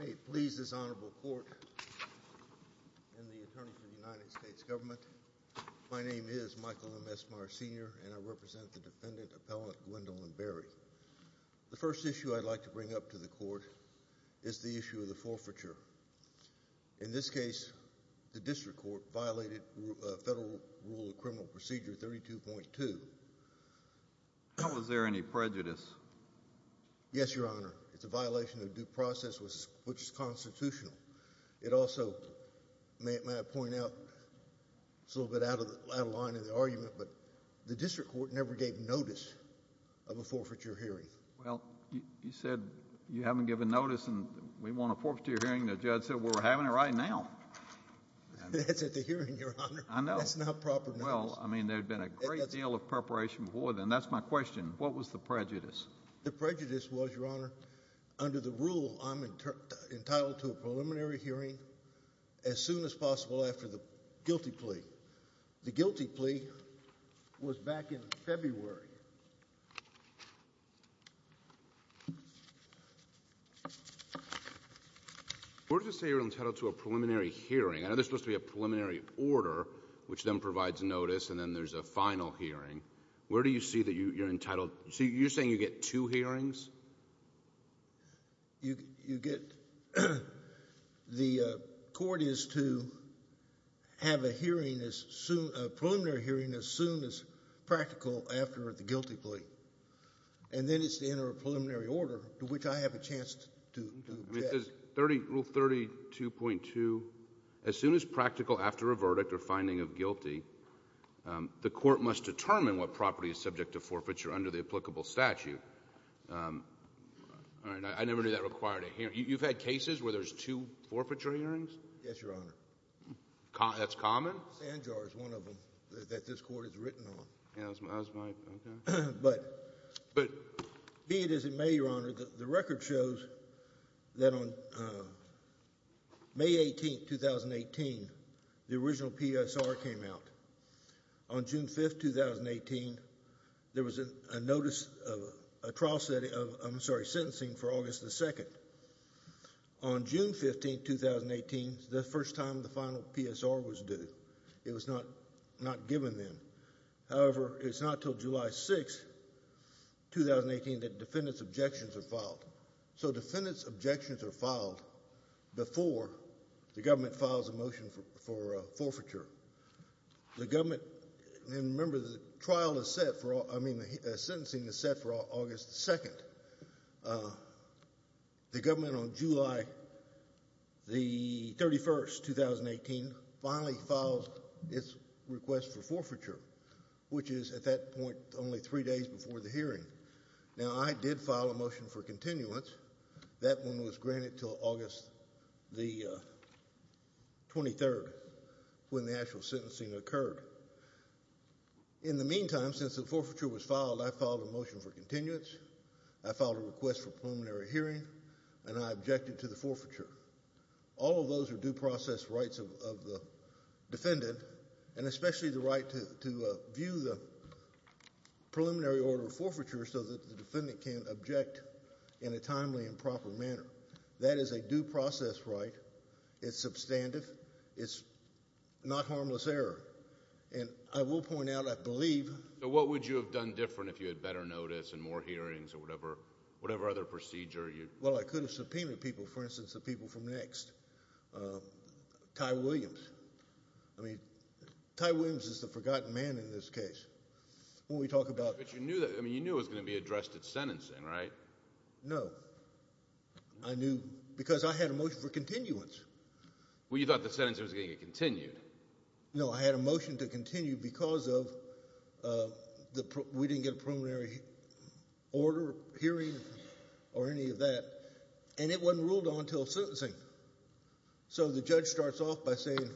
Hey, please this honorable court and the attorney for the United States government. My name is Michael M. Esmar, Sr., and I represent the defendant, Appellant Gwendolyn Berry. The first issue I'd like to bring up to the court is the issue of the forfeiture. In this case, the district court violated Federal Rule of Criminal Procedure 32.2. Was there any prejudice? Yes, Your Honor. It's a violation of due process, which is constitutional. It also, may I point out, it's a little bit out of line in the argument, but the district court never gave notice of a forfeiture hearing. Well, you said you haven't given notice and we want a forfeiture hearing. The judge said we're having it right now. That's at the hearing, Your Honor. I know. That's not proper notice. Well, I mean, there'd been a great deal of preparation before then. That's my question. What was the prejudice? The prejudice was, Your Honor, under the rule, I'm entitled to a preliminary hearing as soon as possible after the guilty plea. The guilty plea was back in February. Where does it say you're entitled to a preliminary hearing? I know there's supposed to be a preliminary order, which then provides notice, and then there's a final hearing. Where do you see that you're entitled? So you're saying you get two hearings? You get the court is to have a hearing as soon, a preliminary hearing as soon as practical after the guilty plea, and then it's the end of a preliminary order, to which I have a chance to object. Rule 32.2, as soon as practical after a verdict or finding of guilty, the court must determine what property is subject to forfeiture under the applicable statute. All right, I never knew that required a hearing. You've had cases where there's two forfeiture hearings? Yes, Your Honor. That's common? Sand jars, one of them, that this court has written on. Yeah, that's my, okay. But be it as of May, Your Honor, the record shows that on May 18, 2018, the original PSR came out. On June 5, 2018, there was a notice of a trial setting of, I'm sorry, sentencing for August the 2nd. On June 15, 2018, the first time the final PSR was due. It was not given then. However, it's not until July 6, 2018, that defendant's objections are filed. So, defendant's objections are filed before the government files a motion for forfeiture. The government, and remember, the trial is set for, I mean, the sentencing is set for August the 2nd. The government on July the 31st, 2018, finally files its request for forfeiture, which is at that point only three days before the hearing. Now, I did file a motion for continuance. That one was granted until August the 23rd, when the actual sentencing occurred. In the meantime, since the forfeiture was filed, I filed a motion for continuance. I filed a request for preliminary hearing, and I objected to the forfeiture. All of those are due process rights of the defendant, and especially the right to view the preliminary order forfeiture so that the defendant can object in a timely and proper manner. That is a due process right. It's substantive. It's not harmless error. And I will point out, I believe— So what would you have done different if you had better notice and more hearings or whatever other procedure? Well, I could have subpoenaed people, for instance, the people from next, Ty Williams. I mean, Ty Williams is the forgotten man in this case. When we talk about— But you knew that—I mean, you knew it was going to be addressed at sentencing, right? No. I knew because I had a motion for continuance. Well, you thought the sentencing was going to get continued. No, I had a motion to continue because of the—we didn't get a preliminary order, hearing, or any of that, and it wasn't ruled on until sentencing. So the judge starts off by saying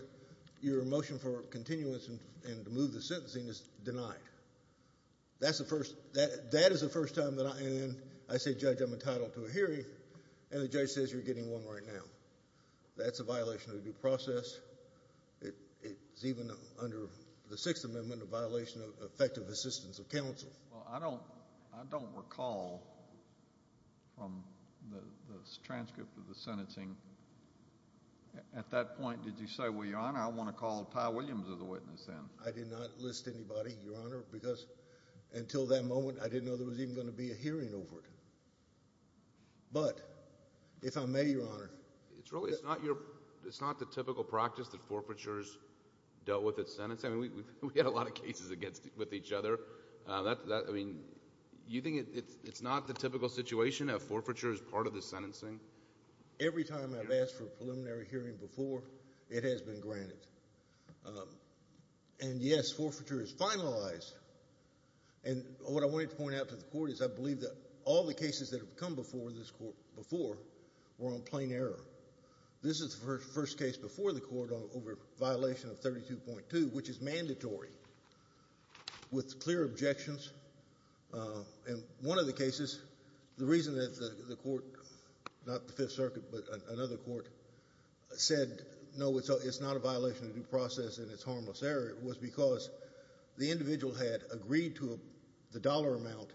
your motion for continuance and to move the sentencing is denied. That's the first—that is the first time that I—and then I say, Judge, I'm entitled to a hearing, and the judge says you're getting one right now. That's a violation of the due process. It's even under the Sixth Amendment a violation of effective assistance of counsel. Well, I don't—I don't recall from the transcript of the sentencing, at that point, did you say, well, Your Honor, I want to call Ty Williams as a witness then? I did not list anybody, Your Honor, because until that moment, I didn't know there was even going to be a hearing over it. But if I may, Your Honor— It's really—it's not your—it's not the typical practice that forfeiture is dealt with at sentencing. I mean, we've had a lot of cases against—with each other. That—I mean, you think it's not the typical situation of forfeiture as part of the sentencing? Every time I've asked for a preliminary hearing before, it has been granted. And, yes, forfeiture is finalized. And what I wanted to point out to the court is I believe that all the cases that have come before this court before were on plain error. This is the first case before the court over a violation of 32.2, which is mandatory, with clear objections. In one of the cases, the reason that the court—not the Fifth Circuit, but another court said, no, it's not a violation of due process and it's harmless error, was because the individual had agreed to the dollar amount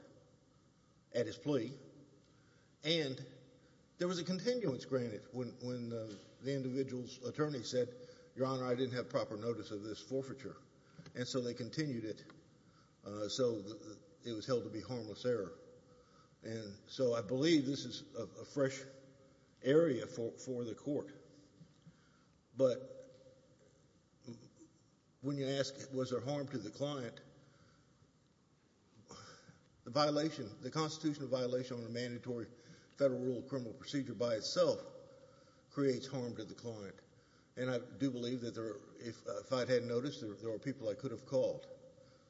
at his plea, and there was a continuance granted when the individual's attorney said, Your Honor, I didn't have proper notice of this forfeiture. And so they continued it. So it was held to be harmless error. And so I believe this is a fresh area for the court. But when you ask, was there harm to the client, the violation— the constitutional violation on a mandatory federal rule of criminal procedure by itself creates harm to the client. And I do believe that there—if I hadn't noticed, there were people I could have called.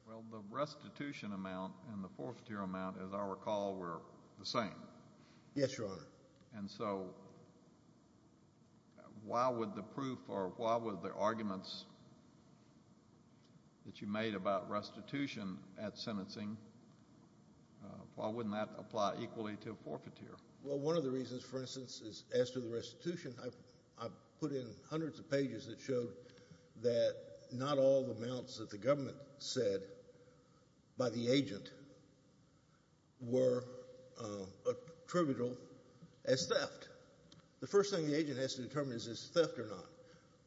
Well, the restitution amount and the forfeiture amount, as I recall, were the same. Yes, Your Honor. And so why would the proof or why would the arguments that you made about restitution at sentencing, why wouldn't that apply equally to a forfeiture? Well, one of the reasons, for instance, is as to the restitution, I put in hundreds of pages that showed that not all the amounts that the government said by the agent were attributable as theft. The first thing the agent has to determine is this theft or not.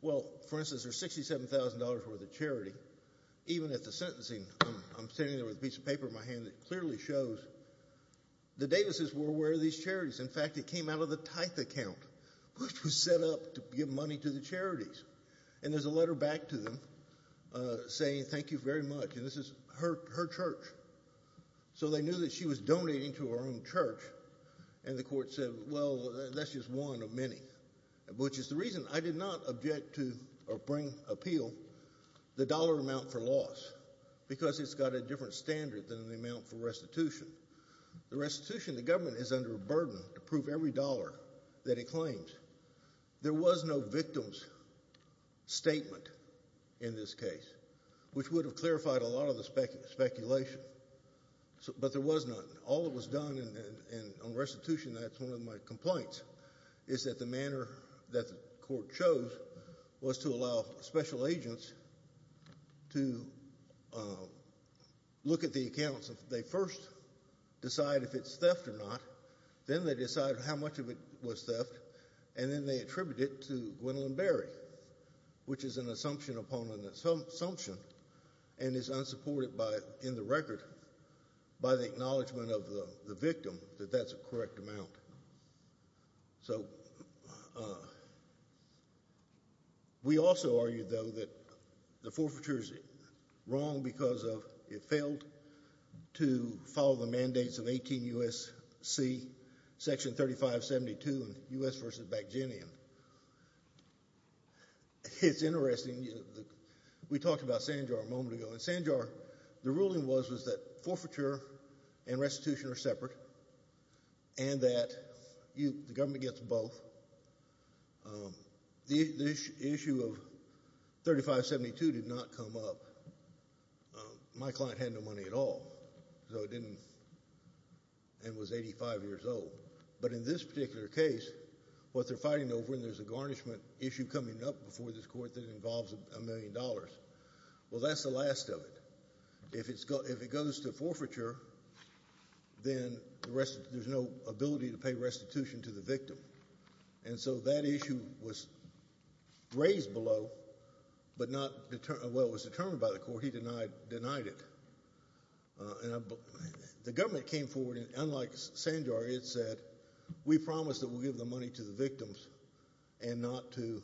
Well, for instance, there's $67,000 worth of charity. Even at the sentencing, I'm standing there with a piece of paper in my hand that clearly shows the Davises were aware of these charities. In fact, it came out of the Tithe account, which was set up to give money to the charities. And there's a letter back to them saying thank you very much, and this is her church. So they knew that she was donating to her own church, and the court said, well, that's just one of many, which is the reason I did not object to or bring appeal the dollar amount for loss, because it's got a different standard than the amount for restitution. The restitution, the government is under a burden to prove every dollar that it claims. There was no victim's statement in this case, which would have clarified a lot of the speculation, but there was none. All that was done on restitution, that's one of my complaints, is that the manner that the court chose was to allow special agents to look at the accounts. They first decide if it's theft or not, then they decide how much of it was theft, and then they attribute it to Gwendolyn Berry, which is an assumption upon an assumption, and is unsupported in the record by the acknowledgment of the victim that that's a correct amount. So we also argue, though, that the forfeiture is wrong because it failed to follow the mandates of 18 U.S.C., Section 3572 in U.S. v. Bagginian. It's interesting. We talked about Sanjar a moment ago. In Sanjar, the ruling was that forfeiture and restitution are separate and that the government gets both. The issue of 3572 did not come up. My client had no money at all and was 85 years old. But in this particular case, what they're fighting over, and there's a garnishment issue coming up before this court that involves a million dollars, well, that's the last of it. If it goes to forfeiture, then there's no ability to pay restitution to the victim. And so that issue was raised below but not determined by the court. He denied it. The government came forward, and unlike Sanjar, it said, we promise that we'll give the money to the victims and not to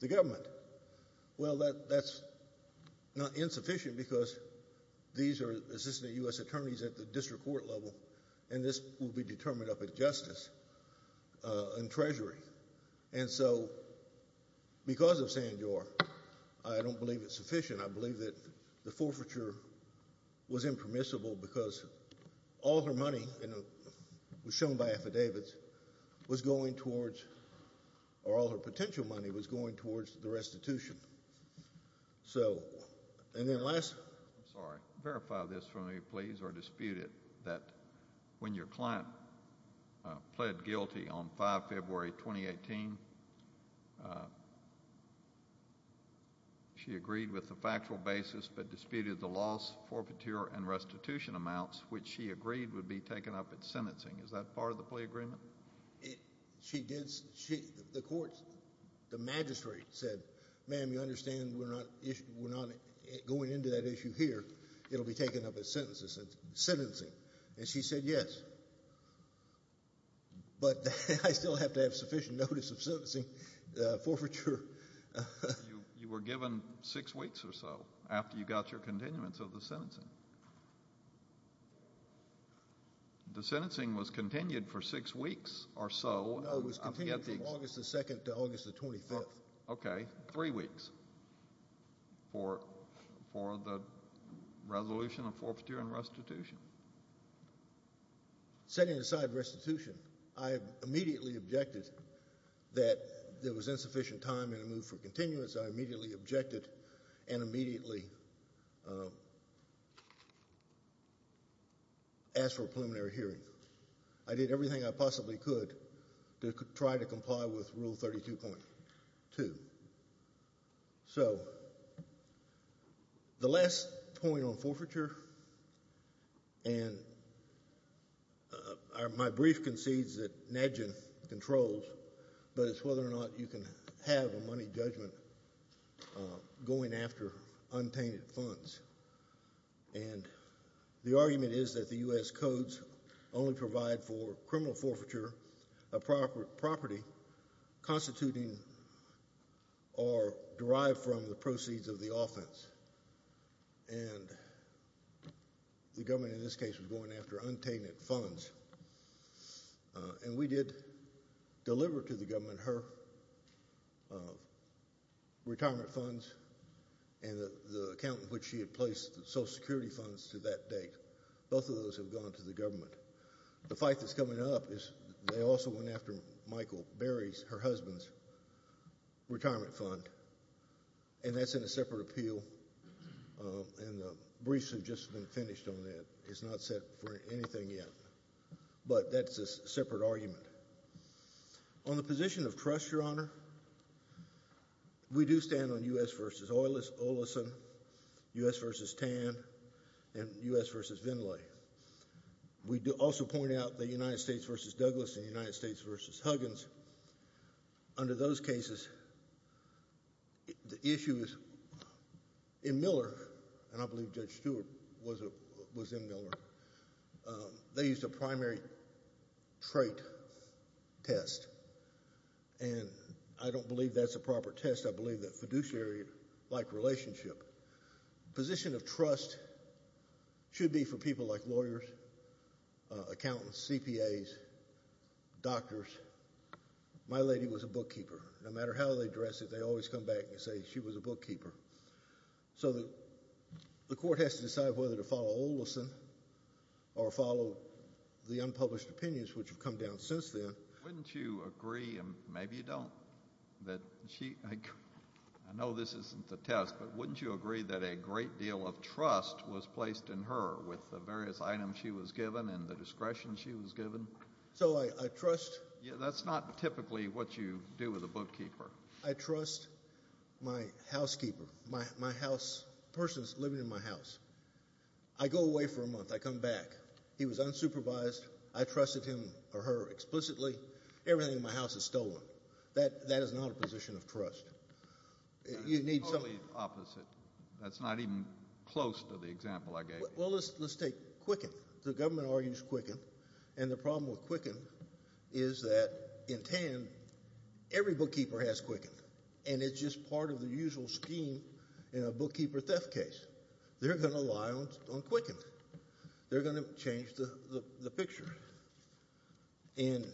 the government. Well, that's not insufficient because these are Assistant U.S. Attorneys at the district court level, and this will be determined up at Justice and Treasury. And so because of Sanjar, I don't believe it's sufficient. I believe that the forfeiture was impermissible because all her money was shown by affidavits was going towards or all her potential money was going towards the restitution. So, and then last. I'm sorry. Verify this for me, please, or dispute it, that when your client pled guilty on 5 February 2018, she agreed with the factual basis but disputed the loss, forfeiture, and restitution amounts, which she agreed would be taken up at sentencing. Is that part of the plea agreement? She did. The court, the magistrate said, ma'am, you understand we're not going into that issue here. It will be taken up at sentencing. And she said yes. But I still have to have sufficient notice of sentencing, forfeiture. You were given six weeks or so after you got your continuance of the sentencing. The sentencing was continued for six weeks or so. No, it was continued from August the 2nd to August the 25th. Okay, three weeks for the resolution of forfeiture and restitution. Setting aside restitution, I immediately objected that there was insufficient time in a move for continuance. I immediately objected and immediately asked for a preliminary hearing. I did everything I possibly could to try to comply with Rule 32.2. So the last point on forfeiture, and my brief concedes that NEDJN controls, but it's whether or not you can have a money judgment going after untainted funds. And the argument is that the U.S. codes only provide for criminal forfeiture of property constituting or derived from the proceeds of the offense. And the government in this case was going after untainted funds. And we did deliver to the government her retirement funds and the account in which she had placed the Social Security funds to that date. Both of those have gone to the government. The fight that's coming up is they also went after Michael Berry's, her husband's, retirement fund. And that's in a separate appeal. And the briefs have just been finished on that. It's not set for anything yet. But that's a separate argument. On the position of trust, Your Honor, we do stand on U.S. v. Oleson, U.S. v. Tan, and U.S. v. Vinlay. We also point out the United States v. Douglas and the United States v. Huggins. Under those cases, the issue is in Miller, and I believe Judge Stewart was in Miller, they used a primary trait test. And I don't believe that's a proper test. I believe that fiduciary-like relationship. Position of trust should be for people like lawyers, accountants, CPAs, doctors. My lady was a bookkeeper. No matter how they address it, they always come back and say she was a bookkeeper. So the court has to decide whether to follow Oleson or follow the unpublished opinions, which have come down since then. Wouldn't you agree, and maybe you don't, that she—I know this isn't the test, but wouldn't you agree that a great deal of trust was placed in her with the various items she was given and the discretion she was given? So I trust— That's not typically what you do with a bookkeeper. I trust my housekeeper, my person that's living in my house. I go away for a month. I come back. He was unsupervised. I trusted him or her explicitly. Everything in my house is stolen. That is not a position of trust. That's totally opposite. That's not even close to the example I gave you. Well, let's take Quicken. The government argues Quicken. And the problem with Quicken is that in Tann, every bookkeeper has Quicken, and it's just part of the usual scheme in a bookkeeper theft case. They're going to rely on Quicken. They're going to change the picture. And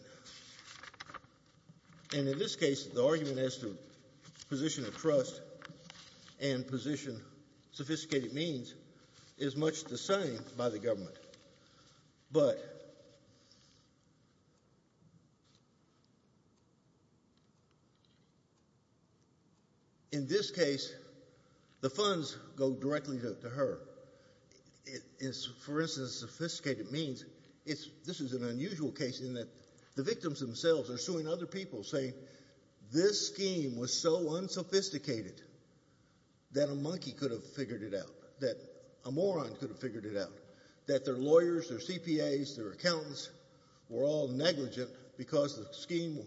in this case, the argument as to position of trust and position of sophisticated means is much the same by the government. But in this case, the funds go directly to her. For instance, sophisticated means, this is an unusual case in that the victims themselves are suing other people saying this scheme was so unsophisticated that a monkey could have figured it out, that a moron could have figured it out, that their lawyers, their CPAs, their accountants were all negligent because of the scheme.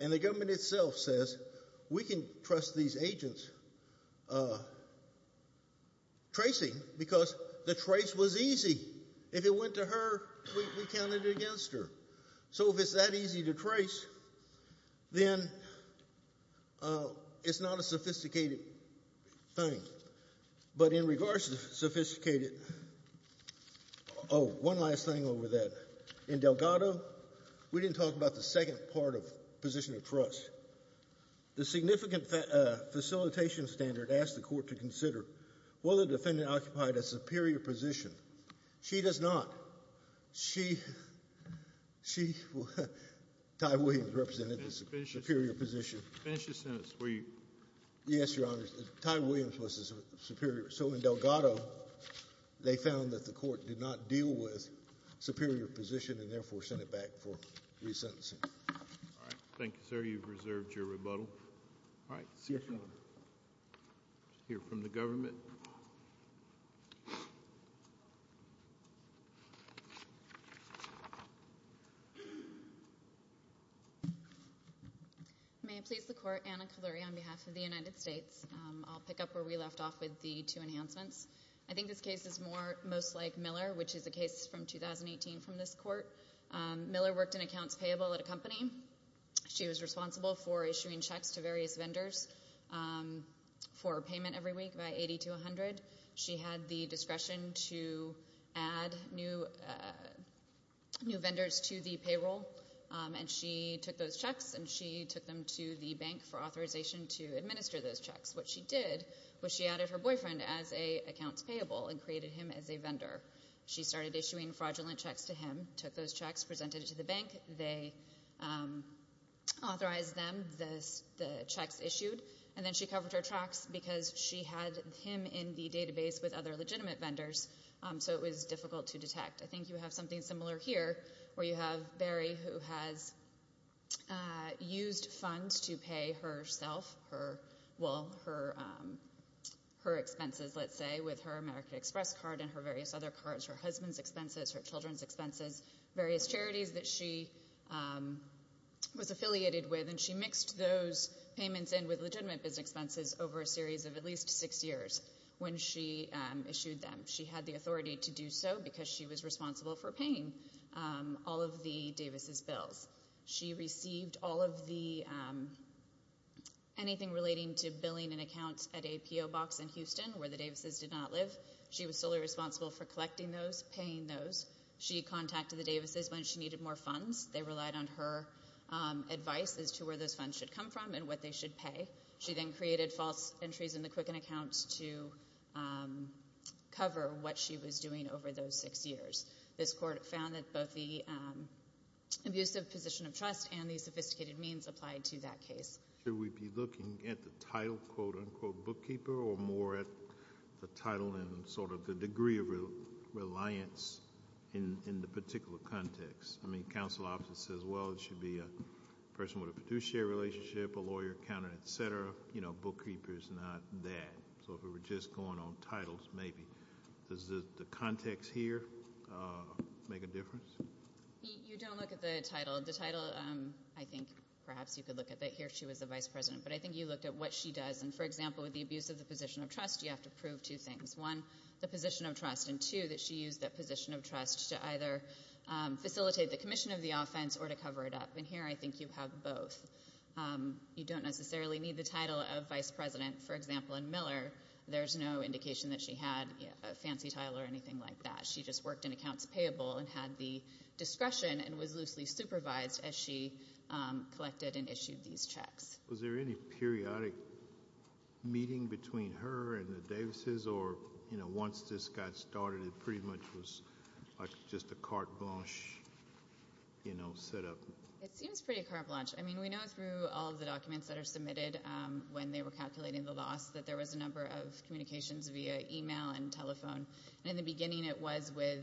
And the government itself says we can trust these agents tracing because the trace was easy. If it went to her, we counted it against her. So if it's that easy to trace, then it's not a sophisticated thing. But in regards to sophisticated, oh, one last thing over that. In Delgado, we didn't talk about the second part of position of trust. The significant facilitation standard asked the court to consider whether the defendant occupied a superior position. She does not. She, she, Ty Williams represented the superior position. Finish your sentence, will you? Yes, Your Honor. Ty Williams was the superior. So in Delgado, they found that the court did not deal with superior position and therefore sent it back for resentencing. All right. Thank you, sir. You've reserved your rebuttal. All right. Let's hear from the government. May I please the court? Anna Caluri on behalf of the United States. I'll pick up where we left off with the two enhancements. I think this case is more, most like Miller, which is a case from 2018 from this court. She was responsible for issuing checks to various vendors for payment every week by 80 to 100. She had the discretion to add new vendors to the payroll, and she took those checks, and she took them to the bank for authorization to administer those checks. What she did was she added her boyfriend as an accounts payable and created him as a vendor. She started issuing fraudulent checks to him, took those checks, presented it to the bank. They authorized them, the checks issued, and then she covered her tracks because she had him in the database with other legitimate vendors, so it was difficult to detect. I think you have something similar here where you have Barry, who has used funds to pay herself, well, her expenses, let's say, with her American Express card and her various other cards, her husband's expenses, her children's expenses, various charities that she was affiliated with, and she mixed those payments in with legitimate business expenses over a series of at least six years when she issued them. She had the authority to do so because she was responsible for paying all of the Davis's bills. She received all of the anything relating to billing and accounts at a P.O. box in Houston where the Davis's did not live. She was solely responsible for collecting those, paying those. She contacted the Davis's when she needed more funds. They relied on her advice as to where those funds should come from and what they should pay. She then created false entries in the Quicken accounts to cover what she was doing over those six years. This court found that both the abusive position of trust and the sophisticated means applied to that case. Should we be looking at the title, quote, unquote, bookkeeper, or more at the title and sort of the degree of reliance in the particular context? I mean, counsel often says, well, it should be a person with a fiduciary relationship, a lawyer, accountant, et cetera. You know, bookkeeper is not that. So if we were just going on titles, maybe. Does the context here make a difference? You don't look at the title. The title, I think perhaps you could look at that here. She was the vice president. But I think you looked at what she does. And, for example, with the abuse of the position of trust, you have to prove two things, one, the position of trust, and, two, that she used that position of trust to either facilitate the commission of the offense or to cover it up. And here I think you have both. You don't necessarily need the title of vice president. For example, in Miller, there's no indication that she had a fancy title or anything like that. She just worked in accounts payable and had the discretion and was loosely supervised as she collected and issued these checks. Was there any periodic meeting between her and the Davises? Or, you know, once this got started, it pretty much was like just a carte blanche, you know, set up? It seems pretty carte blanche. I mean, we know through all of the documents that are submitted when they were calculating the loss that there was a number of communications via e-mail and telephone. In the beginning, it was with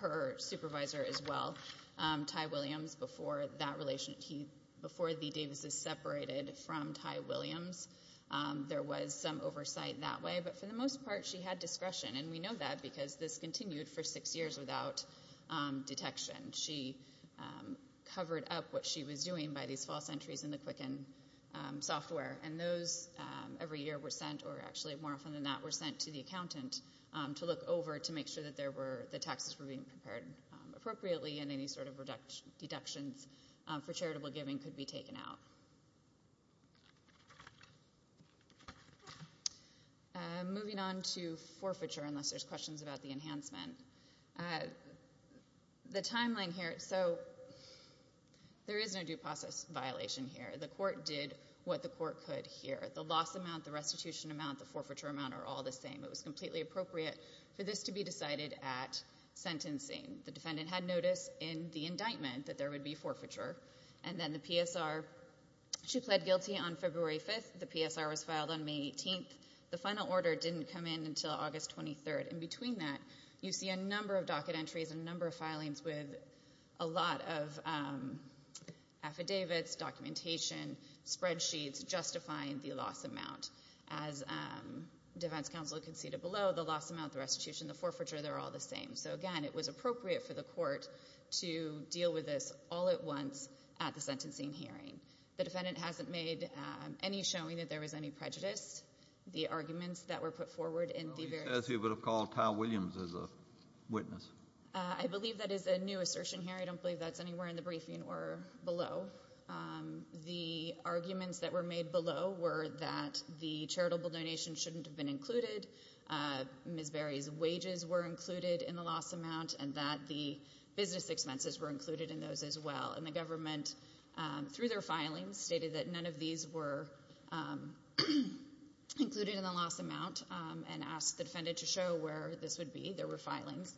her supervisor as well, Ty Williams, before the Davises separated from Ty Williams. There was some oversight that way. But for the most part, she had discretion. And we know that because this continued for six years without detection. She covered up what she was doing by these false entries in the Quicken software. And those every year were sent or actually more often than not were sent to the accountant to look over to make sure that the taxes were being prepared appropriately and any sort of deductions for charitable giving could be taken out. Moving on to forfeiture, unless there's questions about the enhancement. The timeline here, so there is no due process violation here. The court did what the court could here. The loss amount, the restitution amount, the forfeiture amount are all the same. It was completely appropriate for this to be decided at sentencing. The defendant had notice in the indictment that there would be forfeiture. And then the PSR, she pled guilty on February 5th. The PSR was filed on May 18th. The final order didn't come in until August 23rd. In between that, you see a number of docket entries and a number of filings with a lot of affidavits, documentation, spreadsheets justifying the loss amount. As defense counsel conceded below, the loss amount, the restitution, the forfeiture, they're all the same. So, again, it was appropriate for the court to deal with this all at once at the sentencing hearing. The defendant hasn't made any showing that there was any prejudice. The arguments that were put forward in the various- As you would have called Kyle Williams as a witness. I believe that is a new assertion here. I don't believe that's anywhere in the briefing or below. The arguments that were made below were that the charitable donation shouldn't have been included, Ms. Berry's wages were included in the loss amount, and that the business expenses were included in those as well. And the government, through their filings, stated that none of these were included in the loss amount and asked the defendant to show where this would be. There were filings.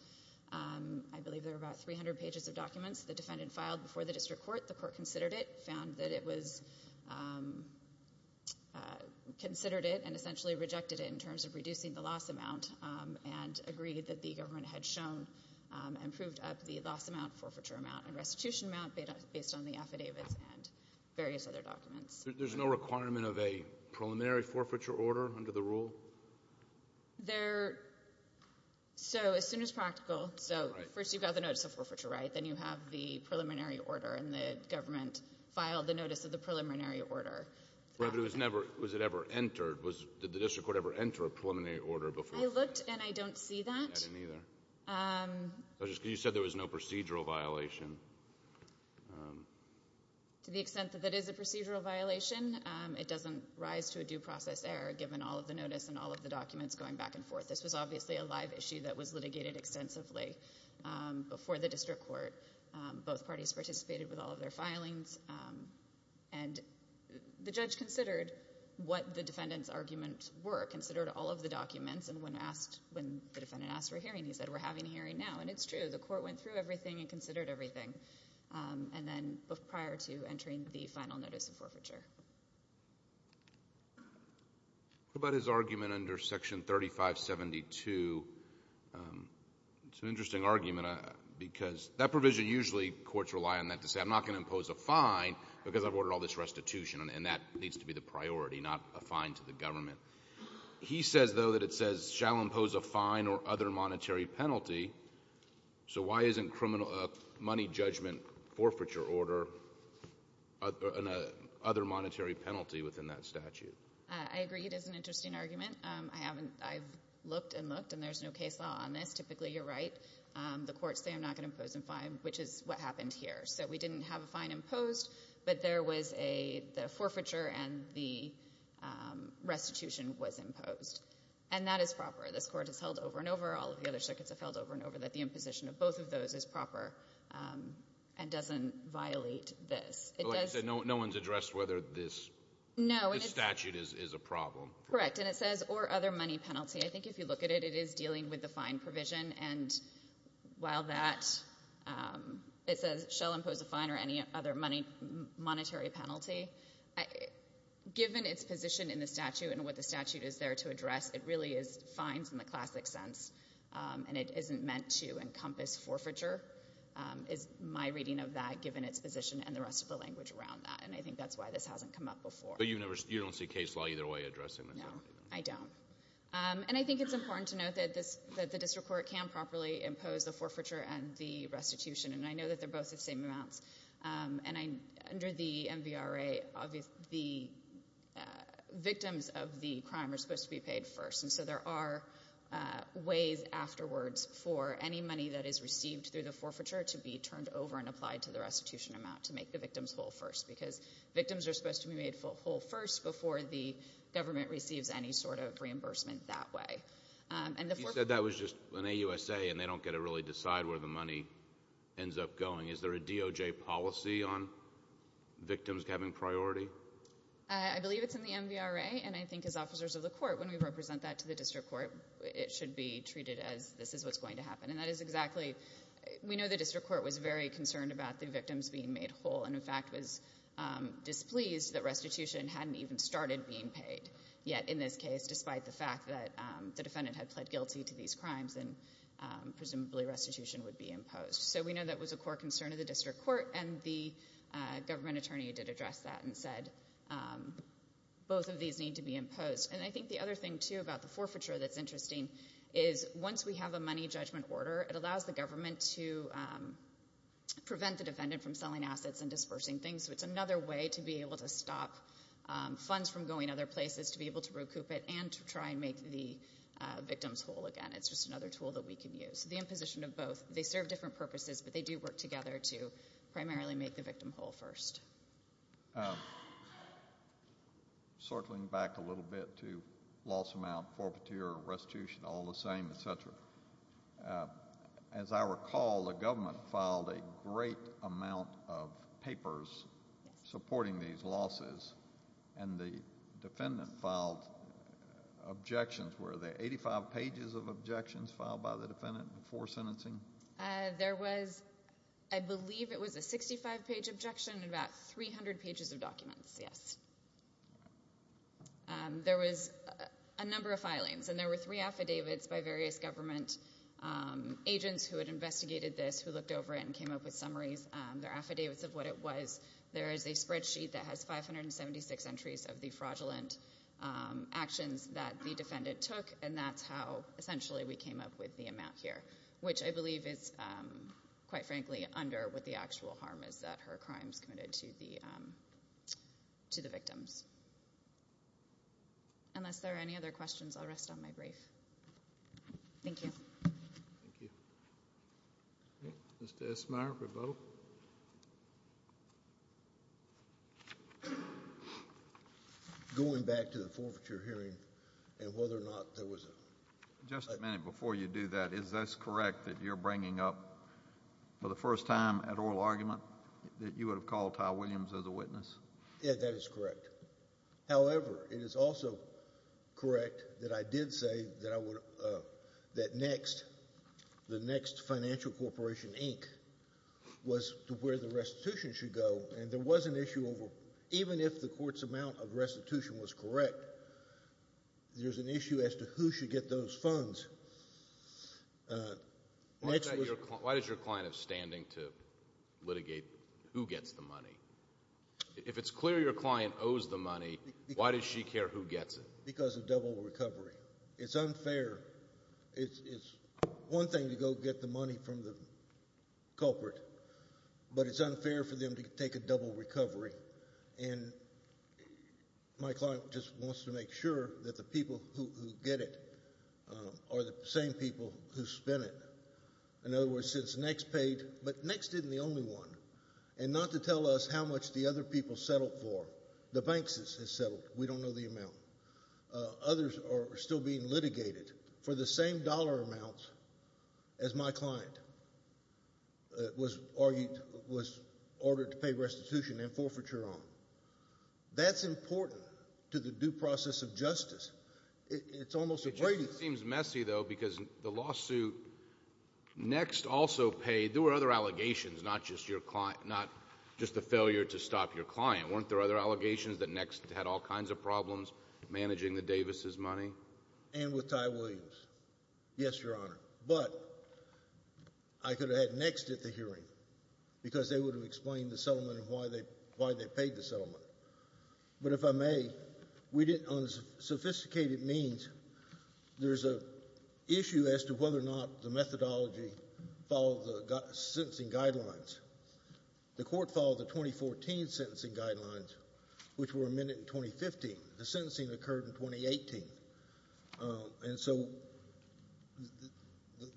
I believe there were about 300 pages of documents the defendant filed before the district court. The court considered it, found that it was-considered it and essentially rejected it in terms of reducing the loss amount and agreed that the government had shown and proved up the loss amount, forfeiture amount, and restitution amount based on the affidavits and various other documents. There's no requirement of a preliminary forfeiture order under the rule? There-so as soon as practical- Right. So first you've got the notice of forfeiture, right? Then you have the preliminary order, and the government filed the notice of the preliminary order. Was it ever entered? Did the district court ever enter a preliminary order before? I looked, and I don't see that. I didn't either. You said there was no procedural violation. To the extent that that is a procedural violation, it doesn't rise to a due process error, given all of the notice and all of the documents going back and forth. This was obviously a live issue that was litigated extensively before the district court. Both parties participated with all of their filings, and the judge considered what the defendant's arguments were, considered all of the documents, and when asked, when the defendant asked for a hearing, he said, we're having a hearing now. And it's true. The court went through everything and considered everything, and then prior to entering the final notice of forfeiture. What about his argument under Section 3572? It's an interesting argument because that provision usually courts rely on that to say, I'm not going to impose a fine because I've ordered all this restitution, and that needs to be the priority, not a fine to the government. He says, though, that it says, shall impose a fine or other monetary penalty. So why isn't money judgment forfeiture order and a other monetary penalty within that statute? I agree it is an interesting argument. I haven't — I've looked and looked, and there's no case law on this. Typically, you're right. The courts say I'm not going to impose a fine, which is what happened here. So we didn't have a fine imposed, but there was a — the forfeiture and the restitution was imposed. And that is proper. This court has held over and over, all of the other circuits have held over and over, that the imposition of both of those is proper and doesn't violate this. Like I said, no one's addressed whether this statute is a problem. Correct. And it says, or other money penalty. I think if you look at it, it is dealing with the fine provision. And while that — it says, shall impose a fine or any other money — monetary penalty, given its position in the statute and what the statute is there to address, it really is fines in the classic sense, and it isn't meant to encompass forfeiture, is my reading of that, given its position and the rest of the language around that. And I think that's why this hasn't come up before. But you don't see case law either way addressing this? No, I don't. And I think it's important to note that the district court can properly impose the forfeiture and the restitution, and I know that they're both the same amounts. And under the MVRA, the victims of the crime are supposed to be paid first, and so there are ways afterwards for any money that is received through the forfeiture to be turned over and applied to the restitution amount to make the victims whole first, because victims are supposed to be made whole first before the government receives any sort of reimbursement that way. You said that was just an AUSA, and they don't get to really decide where the money ends up going. Is there a DOJ policy on victims having priority? I believe it's in the MVRA, and I think as officers of the court, when we represent that to the district court, it should be treated as this is what's going to happen. And that is exactly — we know the district court was very concerned about the victims being made whole and, in fact, was displeased that restitution hadn't even started being paid yet in this case, despite the fact that the defendant had pled guilty to these crimes and presumably restitution would be imposed. So we know that was a core concern of the district court, and the government attorney did address that and said both of these need to be imposed. And I think the other thing, too, about the forfeiture that's interesting is once we have a money judgment order, it allows the government to prevent the defendant from selling assets and dispersing things. So it's another way to be able to stop funds from going other places, to be able to recoup it, and to try and make the victims whole again. It's just another tool that we can use. So the imposition of both, they serve different purposes, but they do work together to primarily make the victim whole first. Circling back a little bit to loss amount, forfeiture, restitution, all the same, et cetera, as I recall, the government filed a great amount of papers supporting these losses, and the defendant filed objections. Were there 85 pages of objections filed by the defendant before sentencing? There was, I believe it was a 65-page objection and about 300 pages of documents, yes. There was a number of filings, and there were three affidavits by various government agents who had investigated this, who looked over it and came up with summaries. They're affidavits of what it was. There is a spreadsheet that has 576 entries of the fraudulent actions that the defendant took, and that's how essentially we came up with the amount here, which I believe is, quite frankly, under what the actual harm is that her crimes committed to the victims. Unless there are any other questions, I'll rest on my brief. Thank you. Thank you. Mr. Esmeyer for both. Before going back to the forfeiture hearing and whether or not there was a ---- Just a minute before you do that, is this correct that you're bringing up for the first time at oral argument that you would have called Ty Williams as a witness? Yes, that is correct. However, it is also correct that I did say that next, the next financial corporation, Inc., was where the restitution should go, and there was an issue over, even if the court's amount of restitution was correct, there's an issue as to who should get those funds. Why does your client have standing to litigate who gets the money? If it's clear your client owes the money, why does she care who gets it? Because of double recovery. It's unfair. It's one thing to go get the money from the culprit, but it's unfair for them to take a double recovery, and my client just wants to make sure that the people who get it are the same people who spend it. In other words, since next paid, but next isn't the only one, and not to tell us how much the other people settled for. The banks has settled. We don't know the amount. Others are still being litigated for the same dollar amounts as my client was ordered to pay restitution and forfeiture on. It just seems messy, though, because the lawsuit next also paid. There were other allegations, not just the failure to stop your client. Weren't there other allegations that next had all kinds of problems managing the Davises' money? And with Ty Williams. Yes, Your Honor. But I could have had next at the hearing because they would have explained the settlement and why they paid the settlement. But if I may, on sophisticated means, there's an issue as to whether or not the methodology followed the sentencing guidelines. The court followed the 2014 sentencing guidelines, which were amended in 2015. The sentencing occurred in 2018. And so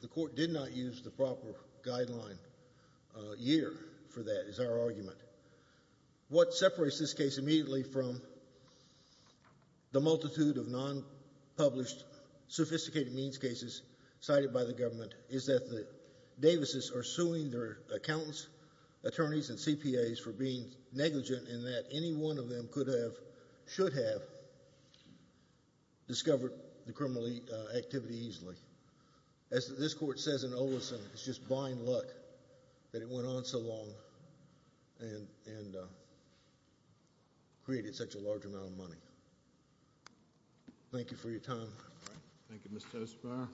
the court did not use the proper guideline year for that, is our argument. What separates this case immediately from the multitude of non-published sophisticated means cases cited by the government is that the Davises are suing their accountants, attorneys, and CPAs for being negligent in that any one of them could have, should have, discovered the criminal activity easily. As this court says in Olison, it's just blind luck that it went on so long and created such a large amount of money. Thank you for your time. Thank you, Mr. Osper.